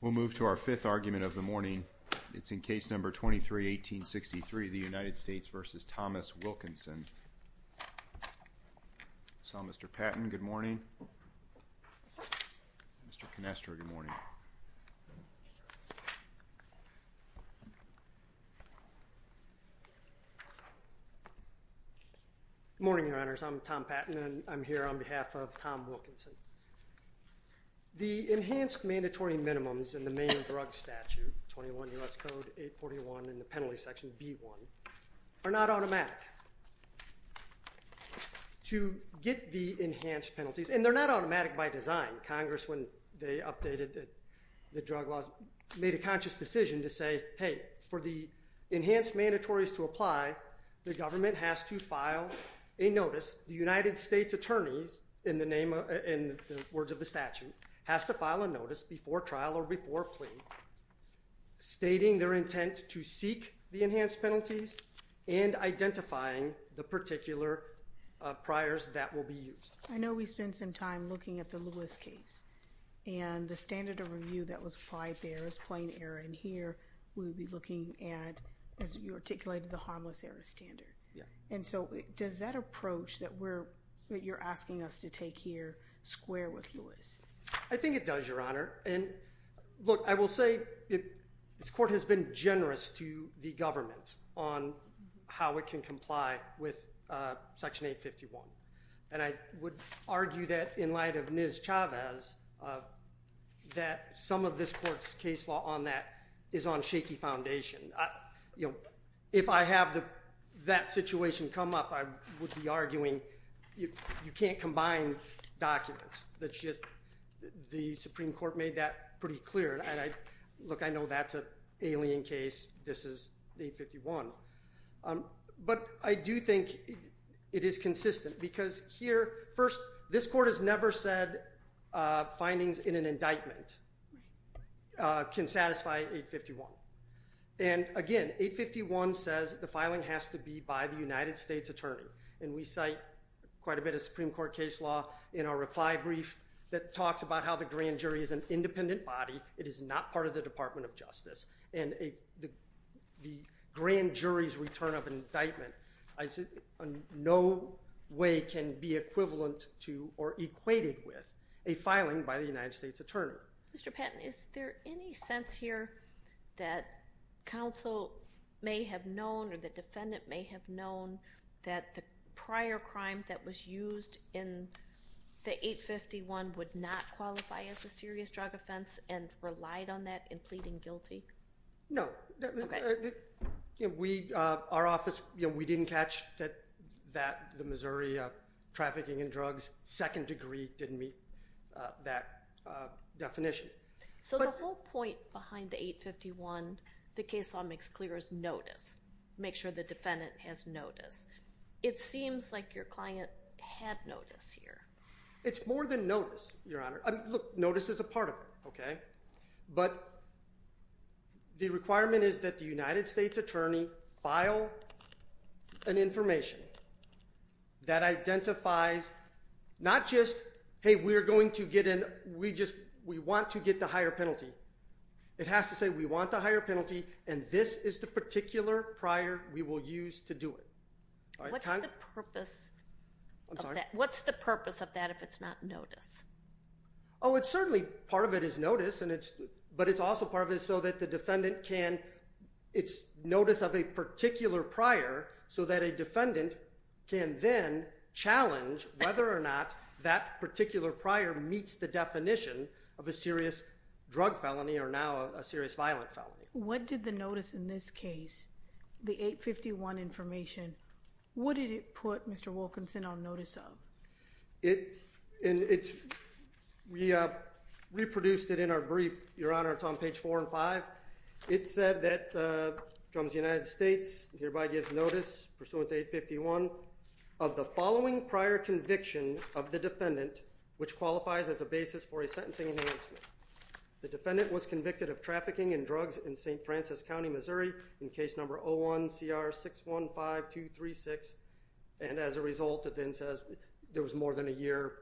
We'll move to our fifth argument of the morning. It's in case number 23-1863, the United States v. Thomas Wilkinson. So, Mr. Patton, good morning. Mr. Canestro, good morning. Good morning, Your Honors. I'm Tom Patton, and I'm here on behalf of Tom Wilkinson. The enhanced mandatory minimums in the Maine Drug Statute, 21 U.S. Code 841, and the penalty section, B1, are not automatic. To get the enhanced penalties, and they're not automatic by design. Congress, when they updated the drug laws, made a conscious decision to say, hey, for the enhanced mandatories to apply, the words of the statute, has to file a notice before trial or before plea, stating their intent to seek the enhanced penalties, and identifying the particular priors that will be used. I know we spent some time looking at the Lewis case, and the standard of review that was applied there is plain error, and here, we'll be looking at, as you articulated, the harmless error standard. And so, does that I think it does, Your Honor. And, look, I will say, this court has been generous to the government on how it can comply with Section 851. And I would argue that, in light of Ms. Chavez, that some of this court's case law on that is on shaky foundation. If I have that situation come up, I would be arguing, you can't combine documents. The Supreme Court made that pretty clear. Look, I know that's an alien case. This is 851. But I do think it is consistent, because here, first, this court has never said findings in an indictment can satisfy 851. And, again, 851 says the filing has to be by the United States Attorney, and we cite quite a bit of Supreme Court case law in our reply brief that talks about how the grand jury is an independent body. It is not part of the Department of Justice. And the grand jury's return of indictment in no way can be equivalent to or equated with a filing by the United States Attorney. Mr. Patton, is there any sense here that counsel may have known or the defendant may have known that the prior crime that was used in the 851 would not qualify as a serious drug offense and relied on that in pleading guilty? No. Our office, we didn't catch that the Missouri trafficking in drugs, second degree, didn't meet that definition. So the whole point behind the 851, the case law makes clear, is notice. Make sure the defendant has notice. It seems like your client had notice here. It's more than notice, Your Honor. Notice is a part of it, okay? But the requirement is that the United States Attorney file an information that identifies not just, hey, we're going to get in, we want to get the higher penalty. It has to say we want the higher penalty and this is the particular prior we will use to do it. What's the purpose of that if it's not notice? Oh, it's certainly part of it is notice, but it's also part of it so that the defendant can, it's notice of a particular prior so that a defendant can then challenge whether or not that particular prior meets the definition of a serious drug felony or now a serious violent felony. What did the notice in this case, the 851 information, what did it put Mr. Wilkinson on notice of? We reproduced it in our brief, Your Honor, it's on page four and five. It said that comes United States, hereby gives notice pursuant to 851 of the following prior conviction of the defendant which qualifies as a basis for a sentencing enhancement. The defendant was convicted of trafficking in drugs in St. Francis County, Missouri in case number 01CR615236 and as a result it then says there was more than a year,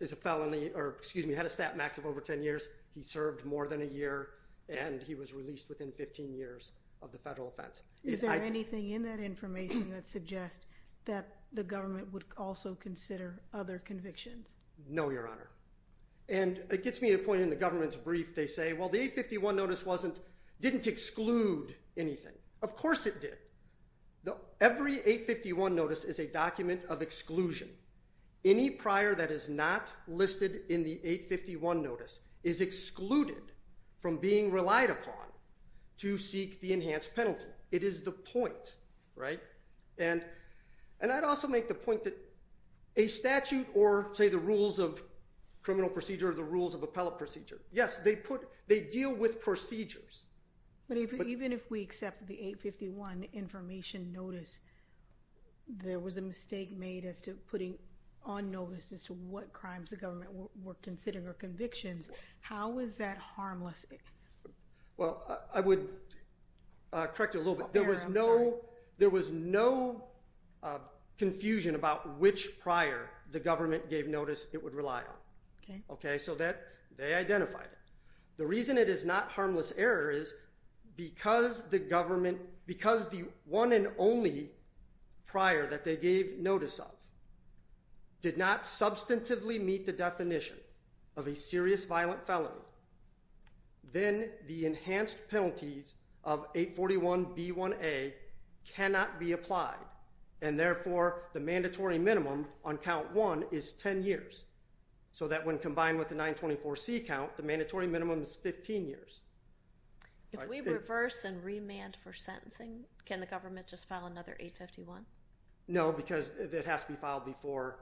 it's a felony, or excuse me, had a stat max of over 10 years. He served more than a year and he was released within 15 years of the federal offense. Is there anything in that information that suggests that the government would also consider other convictions? No, Your Honor. And it gets me to a point in the government's brief, they say, well the 851 notice didn't exclude anything. Of course it did. Any prior that is not listed in the 851 notice is excluded from being relied upon to seek the enhanced penalty. It is the point, right? And I'd also make the point that a statute or say the rules of criminal procedure or the rules of appellate procedure, yes, they deal with procedures. But even if we accept the 851 information notice, there was a mistake made as to putting on notice as to what crimes the government were considering or convictions. How is that harmless? Well, I would correct you a little bit. There was no confusion about which prior the government gave notice it would rely on. Okay. So they identified it. The reason it is not harmless error is because the government, because the one and only prior that they gave notice of did not substantively meet the definition of a serious violent felony, then the enhanced penalties of 841B1A cannot be applied. And therefore, the mandatory minimum on count one is ten years. So that when combined with the 924C count, the mandatory minimum is 15 years. If we reverse and remand for sentencing, can the government just file another 851? No, because it has to be filed before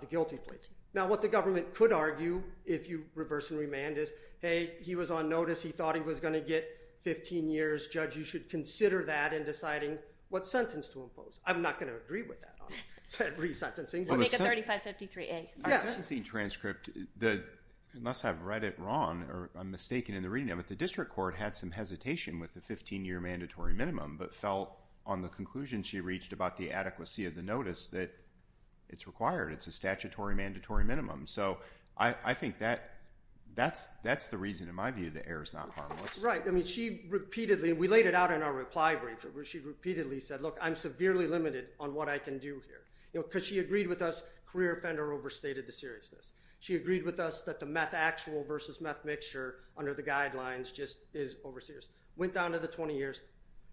the guilty plate. Now, what the government could argue if you reverse and remand is, hey, he was on notice. He thought he was going to get 15 years. Judge, you should consider that in deciding what sentence to impose. I'm not going to agree with that on resentencing. Make it 3553A. Yeah. The sentencing transcript, unless I've read it wrong or I'm mistaken in the reading of it, the district court had some hesitation with the 15-year mandatory minimum but felt on the conclusion she reached about the adequacy of the notice that it's required. It's a statutory mandatory minimum. So I think that's the reason, in my view, the error is not harmless. Right. I mean she repeatedly, we laid it out in our reply brief where she repeatedly said, look, I'm severely limited on what I can do here because she agreed with us career offender overstated the seriousness. She agreed with us that the meth actual versus meth mixture under the guidelines just is over serious. Went down to the 20 years,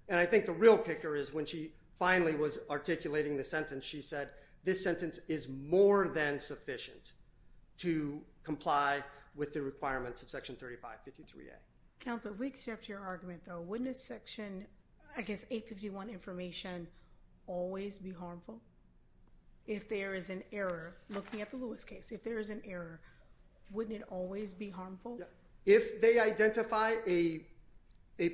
and I think the real kicker is when she finally was articulating the sentence, she said this sentence is more than sufficient to comply with the requirements of Section 3553A. Counsel, we accept your argument, though. Wouldn't a Section, I guess, 851 information always be harmful? If there is an error, looking at the Lewis case, if there is an error, wouldn't it always be harmful? If they identify a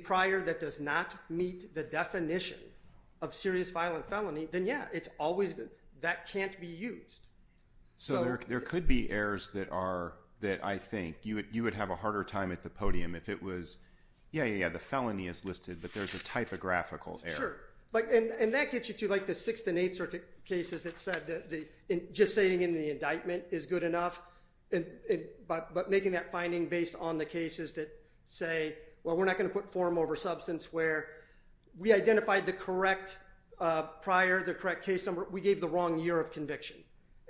prior that does not meet the definition of serious violent felony, then yeah, it's always, that can't be used. So there could be errors that are, that I think you would have a harder time at the podium. If it was, yeah, yeah, yeah, the felony is listed, but there's a typographical error. Sure. And that gets you to like the Sixth and Eighth Circuit cases that said that just saying in the indictment is good enough, but making that finding based on the cases that say, well, we're not going to put form over substance, where we identified the correct prior, the correct case number. We gave the wrong year of conviction.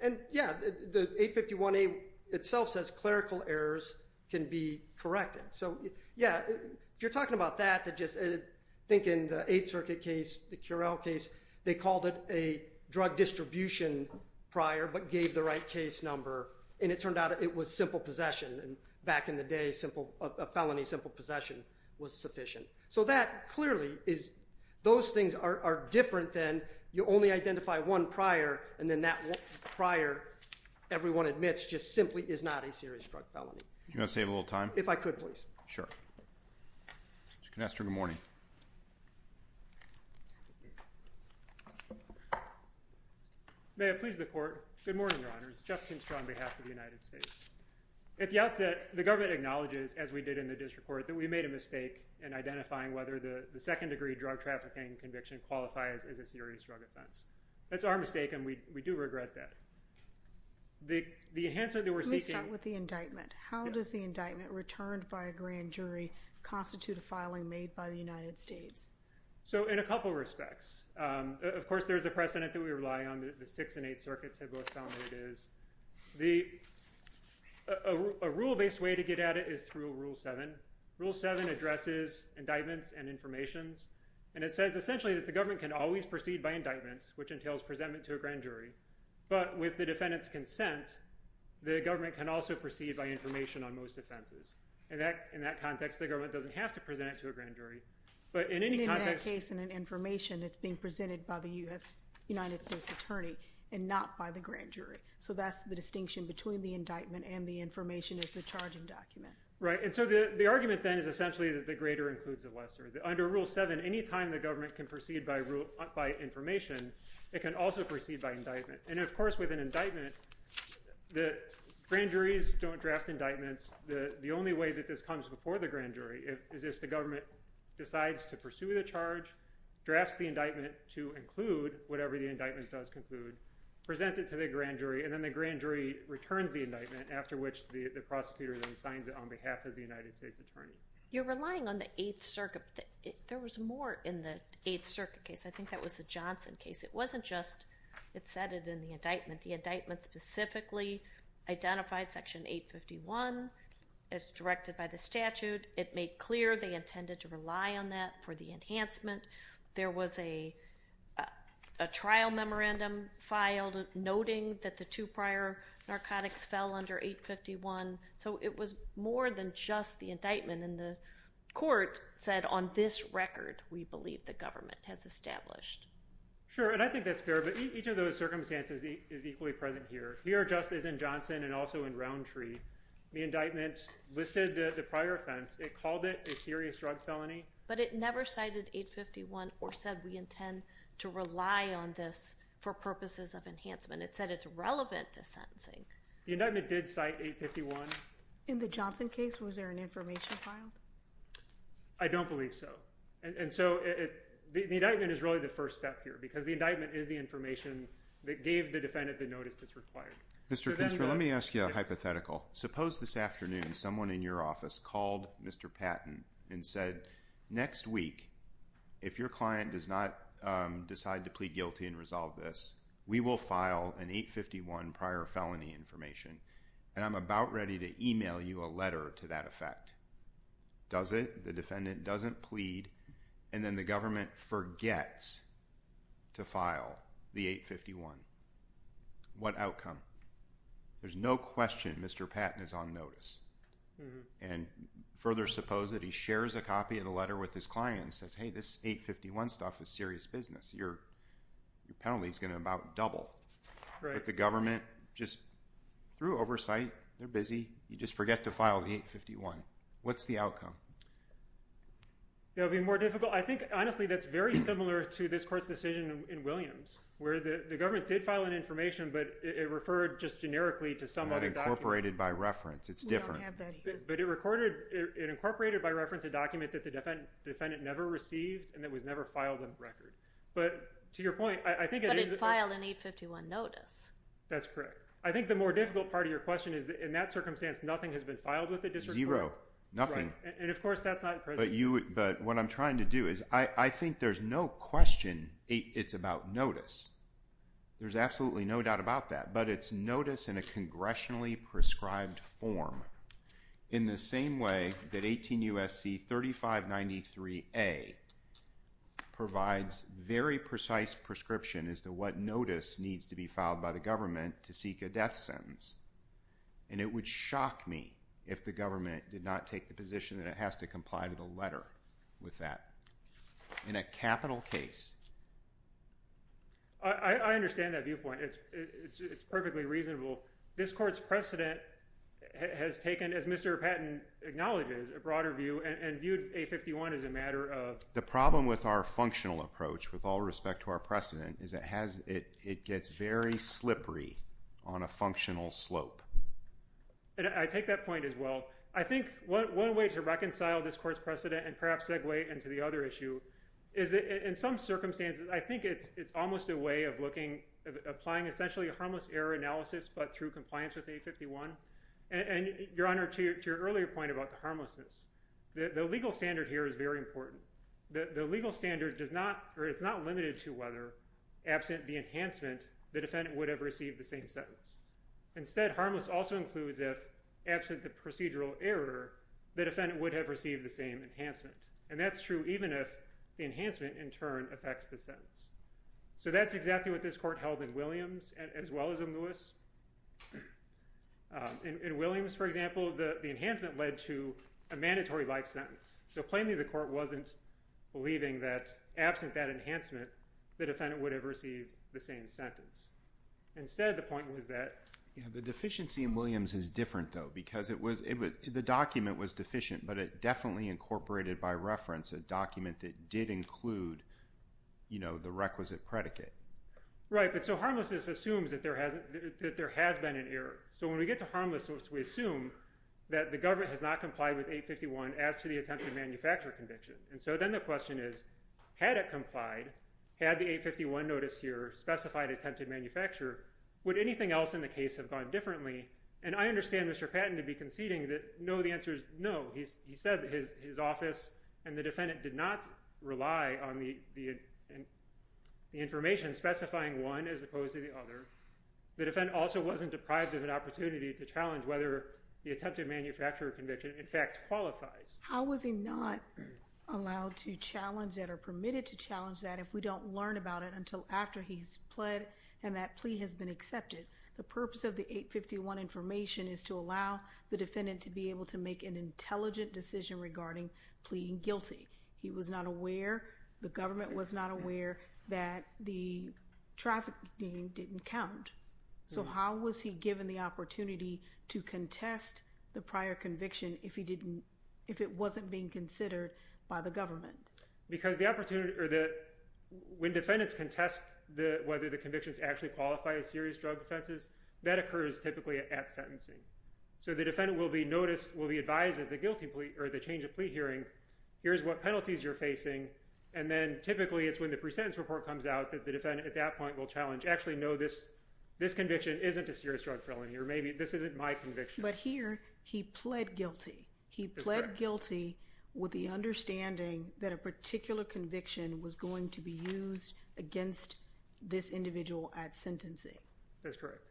And yeah, the 851A itself says clerical errors can be corrected. So, yeah, if you're talking about that, think in the Eighth Circuit case, the Currell case, they called it a drug distribution prior but gave the right case number. And it turned out it was simple possession. And back in the day, a felony simple possession was sufficient. So that clearly is, those things are different than you only identify one prior and then that prior, everyone admits, just simply is not a serious drug felony. Do you want to save a little time? If I could, please. Sure. You can ask her good morning. May it please the Court. Good morning, Your Honors. Jeff Kinstra on behalf of the United States. At the outset, the government acknowledges, as we did in the district court, that we made a mistake in identifying whether the second-degree drug trafficking conviction qualifies as a serious drug offense. That's our mistake, and we do regret that. Let me start with the indictment. How does the indictment returned by a grand jury constitute a filing made by the United States? So, in a couple of respects. Of course, there's a precedent that we rely on that the Sixth and Eighth Circuits have both found that it is. A rule-based way to get at it is through Rule 7. Rule 7 addresses indictments and informations, and it says essentially that the government can always proceed by indictments, which entails presentment to a grand jury. But with the defendant's consent, the government can also proceed by information on most offenses. In that context, the government doesn't have to present it to a grand jury. But in any context— In that case, in an information, it's being presented by the United States attorney and not by the grand jury. So that's the distinction between the indictment and the information is the charging document. Right. And so the argument, then, is essentially that the greater includes the lesser. Under Rule 7, any time the government can proceed by information, it can also proceed by indictment. And, of course, with an indictment, the grand juries don't draft indictments. The only way that this comes before the grand jury is if the government decides to pursue the charge, drafts the indictment to include whatever the indictment does conclude, presents it to the grand jury, and then the grand jury returns the indictment, after which the prosecutor then signs it on behalf of the United States attorney. You're relying on the Eighth Circuit. There was more in the Eighth Circuit case. I think that was the Johnson case. It wasn't just—it said it in the indictment. The indictment specifically identified Section 851 as directed by the statute. It made clear they intended to rely on that for the enhancement. There was a trial memorandum filed noting that the two prior narcotics fell under 851. So it was more than just the indictment, and the court said, on this record, we believe the government has established. Sure, and I think that's fair, but each of those circumstances is equally present here. Here, just as in Johnson and also in Roundtree, the indictment listed the prior offense. It called it a serious drug felony. But it never cited 851 or said we intend to rely on this for purposes of enhancement. It said it's relevant to sentencing. The indictment did cite 851. In the Johnson case, was there an information filed? I don't believe so. And so the indictment is really the first step here because the indictment is the information that gave the defendant the notice that's required. Mr. Kinstra, let me ask you a hypothetical. Suppose this afternoon someone in your office called Mr. Patton and said, next week, if your client does not decide to plead guilty and resolve this, we will file an 851 prior felony information, and I'm about ready to email you a letter to that effect. Does it? The defendant doesn't plead, and then the government forgets to file the 851. What outcome? There's no question Mr. Patton is on notice. And further, suppose that he shares a copy of the letter with his client and says, hey, this 851 stuff is serious business. Your penalty is going to about double. But the government just threw oversight. They're busy. You just forget to file the 851. What's the outcome? That would be more difficult. I think, honestly, that's very similar to this court's decision in Williams where the government did file an information, but it referred just generically to some other document. It incorporated by reference. It's different. But it incorporated by reference a document that the defendant never received and that was never filed on record. But to your point, I think it is. But it filed an 851 notice. That's correct. I think the more difficult part of your question is, in that circumstance, nothing has been filed with the district court? Zero. Nothing. And, of course, that's not present. But what I'm trying to do is I think there's no question it's about notice. There's absolutely no doubt about that. But it's notice in a congressionally prescribed form in the same way that 18 U.S.C. 3593A provides very precise prescription as to what notice needs to be filed by the government to seek a death sentence. And it would shock me if the government did not take the position that it has to comply to the letter with that in a capital case. I understand that viewpoint. It's perfectly reasonable. This court's precedent has taken, as Mr. Patton acknowledges, a broader view and viewed 851 as a matter of? The problem with our functional approach, with all respect to our precedent, is it gets very slippery on a functional slope. I take that point as well. I think one way to reconcile this court's precedent and perhaps segue into the other issue is that in some circumstances I think it's almost a way of applying essentially a harmless error analysis but through compliance with 851. Your Honor, to your earlier point about the harmlessness, the legal standard here is very important. The legal standard is not limited to whether, absent the enhancement, the defendant would have received the same sentence. Instead, harmless also includes if, absent the procedural error, the defendant would have received the same enhancement. That's exactly what this court held in Williams as well as in Lewis. In Williams, for example, the enhancement led to a mandatory life sentence. Plainly, the court wasn't believing that, absent that enhancement, the defendant would have received the same sentence. Instead, the point was that? The deficiency in Williams is different though because the document was deficient but it definitely incorporated by reference a document that did include the requisite predicate. Right, but so harmlessness assumes that there has been an error. When we get to harmless, we assume that the government has not complied with 851 as to the attempted manufacture conviction. Then the question is, had it complied, had the 851 notice here specified attempted manufacture, would anything else in the case have gone differently? I understand Mr. Patton to be conceding that no, the answer is no. He said his office and the defendant did not rely on the information specifying one as opposed to the other. The defendant also wasn't deprived of an opportunity to challenge whether the attempted manufacture conviction, in fact, qualifies. How was he not allowed to challenge that or permitted to challenge that if we don't learn about it until after he's pled and that plea has been accepted? The purpose of the 851 information is to allow the defendant to be able to make an intelligent decision regarding pleading guilty. He was not aware, the government was not aware that the trafficking didn't count. So how was he given the opportunity to contest the prior conviction if it wasn't being considered by the government? When defendants contest whether the convictions actually qualify as serious drug offenses, that occurs typically at sentencing. So the defendant will be advised of the change of plea hearing, here's what penalties you're facing, and then typically it's when the pre-sentence report comes out that the defendant at that point will challenge, actually no, this conviction isn't a serious drug felony or maybe this isn't my conviction. But here he pled guilty. He pled guilty with the understanding that a particular conviction was going to be used against this individual at sentencing. That's correct.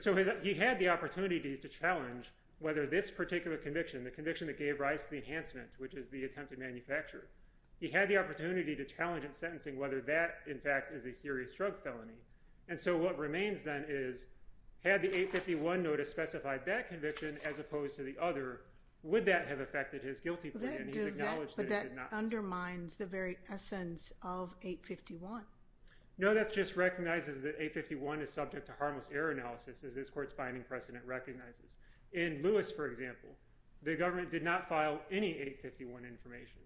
So he had the opportunity to challenge whether this particular conviction, the conviction that gave rise to the enhancement, which is the attempted manufacture, he had the opportunity to challenge at sentencing whether that, in fact, is a serious drug felony. And so what remains then is, had the 851 notice specified that conviction as opposed to the other, would that have affected his guilty plea? But that undermines the very essence of 851. No, that just recognizes that 851 is subject to harmless error analysis, as this court's binding precedent recognizes. In Lewis, for example, the government did not file any 851 information.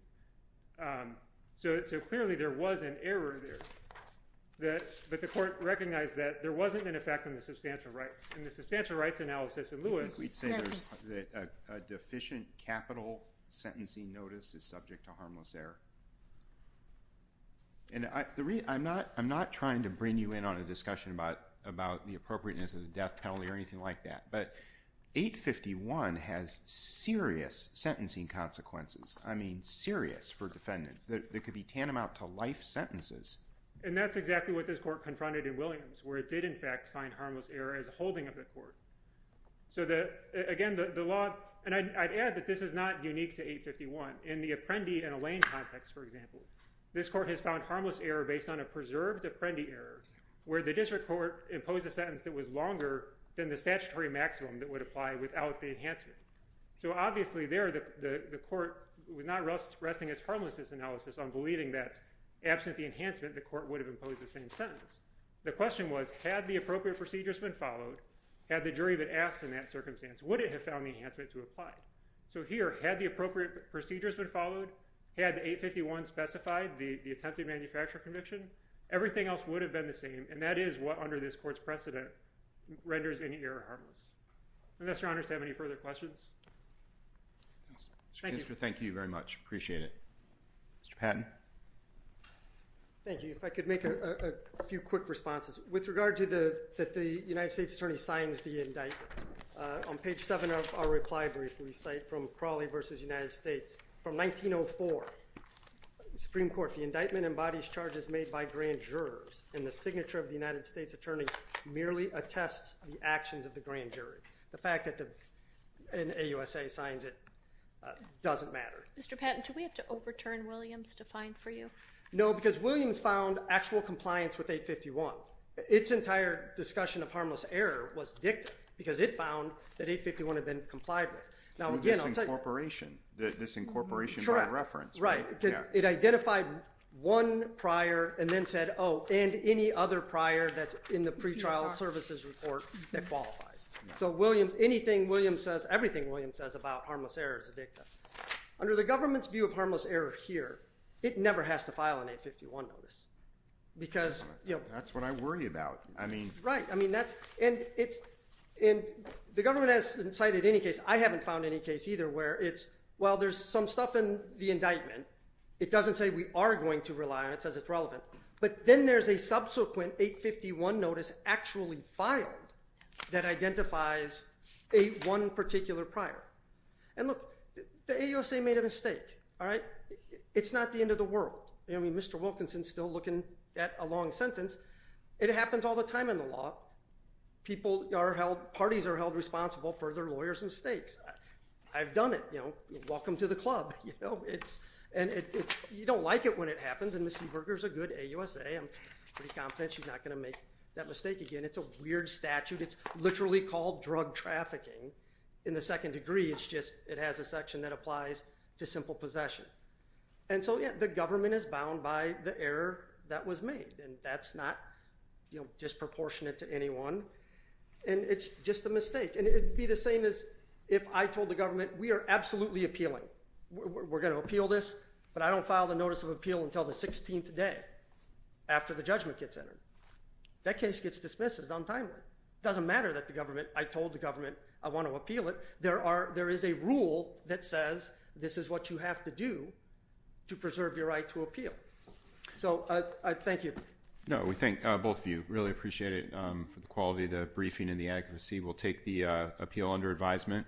So clearly there was an error there. But the court recognized that there wasn't an effect on the substantial rights. In the substantial rights analysis in Lewis, I think we'd say that a deficient capital sentencing notice is subject to harmless error. And I'm not trying to bring you in on a discussion about the appropriateness of the death penalty or anything like that. But 851 has serious sentencing consequences. I mean, serious for defendants. They could be tantamount to life sentences. And that's exactly what this court confronted in Williams, where it did, in fact, find harmless error as a holding of the court. So again, the law—and I'd add that this is not unique to 851. In the Apprendi and Allain context, for example, this court has found harmless error based on a preserved Apprendi error, where the district court imposed a sentence that was longer than the statutory maximum that would apply without the enhancement. So obviously there, the court was not resting its harmlessness analysis on believing that, absent the enhancement, the court would have imposed the same sentence. The question was, had the appropriate procedures been followed, had the jury been asked in that circumstance, would it have found the enhancement to apply? So here, had the appropriate procedures been followed, had 851 specified the attempted manufacturer conviction, everything else would have been the same. And that is what, under this court's precedent, renders any error harmless. Mr. Honors, do you have any further questions? Mr. Kinster, thank you very much. Appreciate it. Mr. Patton. Thank you. If I could make a few quick responses. With regard to the—that the United States attorney signs the indictment, on page 7 of our reply brief, we cite from Crawley v. United States, from 1904, Supreme Court, the indictment embodies charges made by grand jurors, and the signature of the United States attorney merely attests the actions of the grand jury. The fact that an AUSA signs it doesn't matter. Mr. Patton, do we have to overturn Williams to find for you? No, because Williams found actual compliance with 851. Its entire discussion of harmless error was dictated because it found that 851 had been complied with. Now, again, I'll tell you— The disincorporation. The disincorporation by reference. Correct. Right. It identified one prior and then said, oh, and any other prior that's in the pretrial services report that qualifies. So anything Williams says—everything Williams says about harmless error is a dicta. Under the government's view of harmless error here, it never has to file an 851 notice because— That's what I worry about. Right. I mean, that's—and the government has cited any case. I haven't found any case either where it's, well, there's some stuff in the indictment. It doesn't say we are going to rely on it. It says it's relevant. But then there's a subsequent 851 notice actually filed that identifies one particular prior. And look, the AUSA made a mistake, all right? It's not the end of the world. I mean, Mr. Wilkinson's still looking at a long sentence. It happens all the time in the law. People are held—parties are held responsible for their lawyers' mistakes. I've done it. You know, welcome to the club. And you don't like it when it happens, and Ms. Zuberger's a good AUSA. I'm pretty confident she's not going to make that mistake again. It's a weird statute. It's literally called drug trafficking in the second degree. It's just it has a section that applies to simple possession. And so, yeah, the government is bound by the error that was made. And that's not, you know, disproportionate to anyone. And it's just a mistake. And it would be the same as if I told the government we are absolutely appealing. We're going to appeal this, but I don't file the notice of appeal until the 16th day after the judgment gets entered. That case gets dismissed as untimely. It doesn't matter that the government—I told the government I want to appeal it. There is a rule that says this is what you have to do to preserve your right to appeal. So thank you. No, we thank both of you. Really appreciate it for the quality of the briefing and the adequacy. We'll take the appeal under advisement.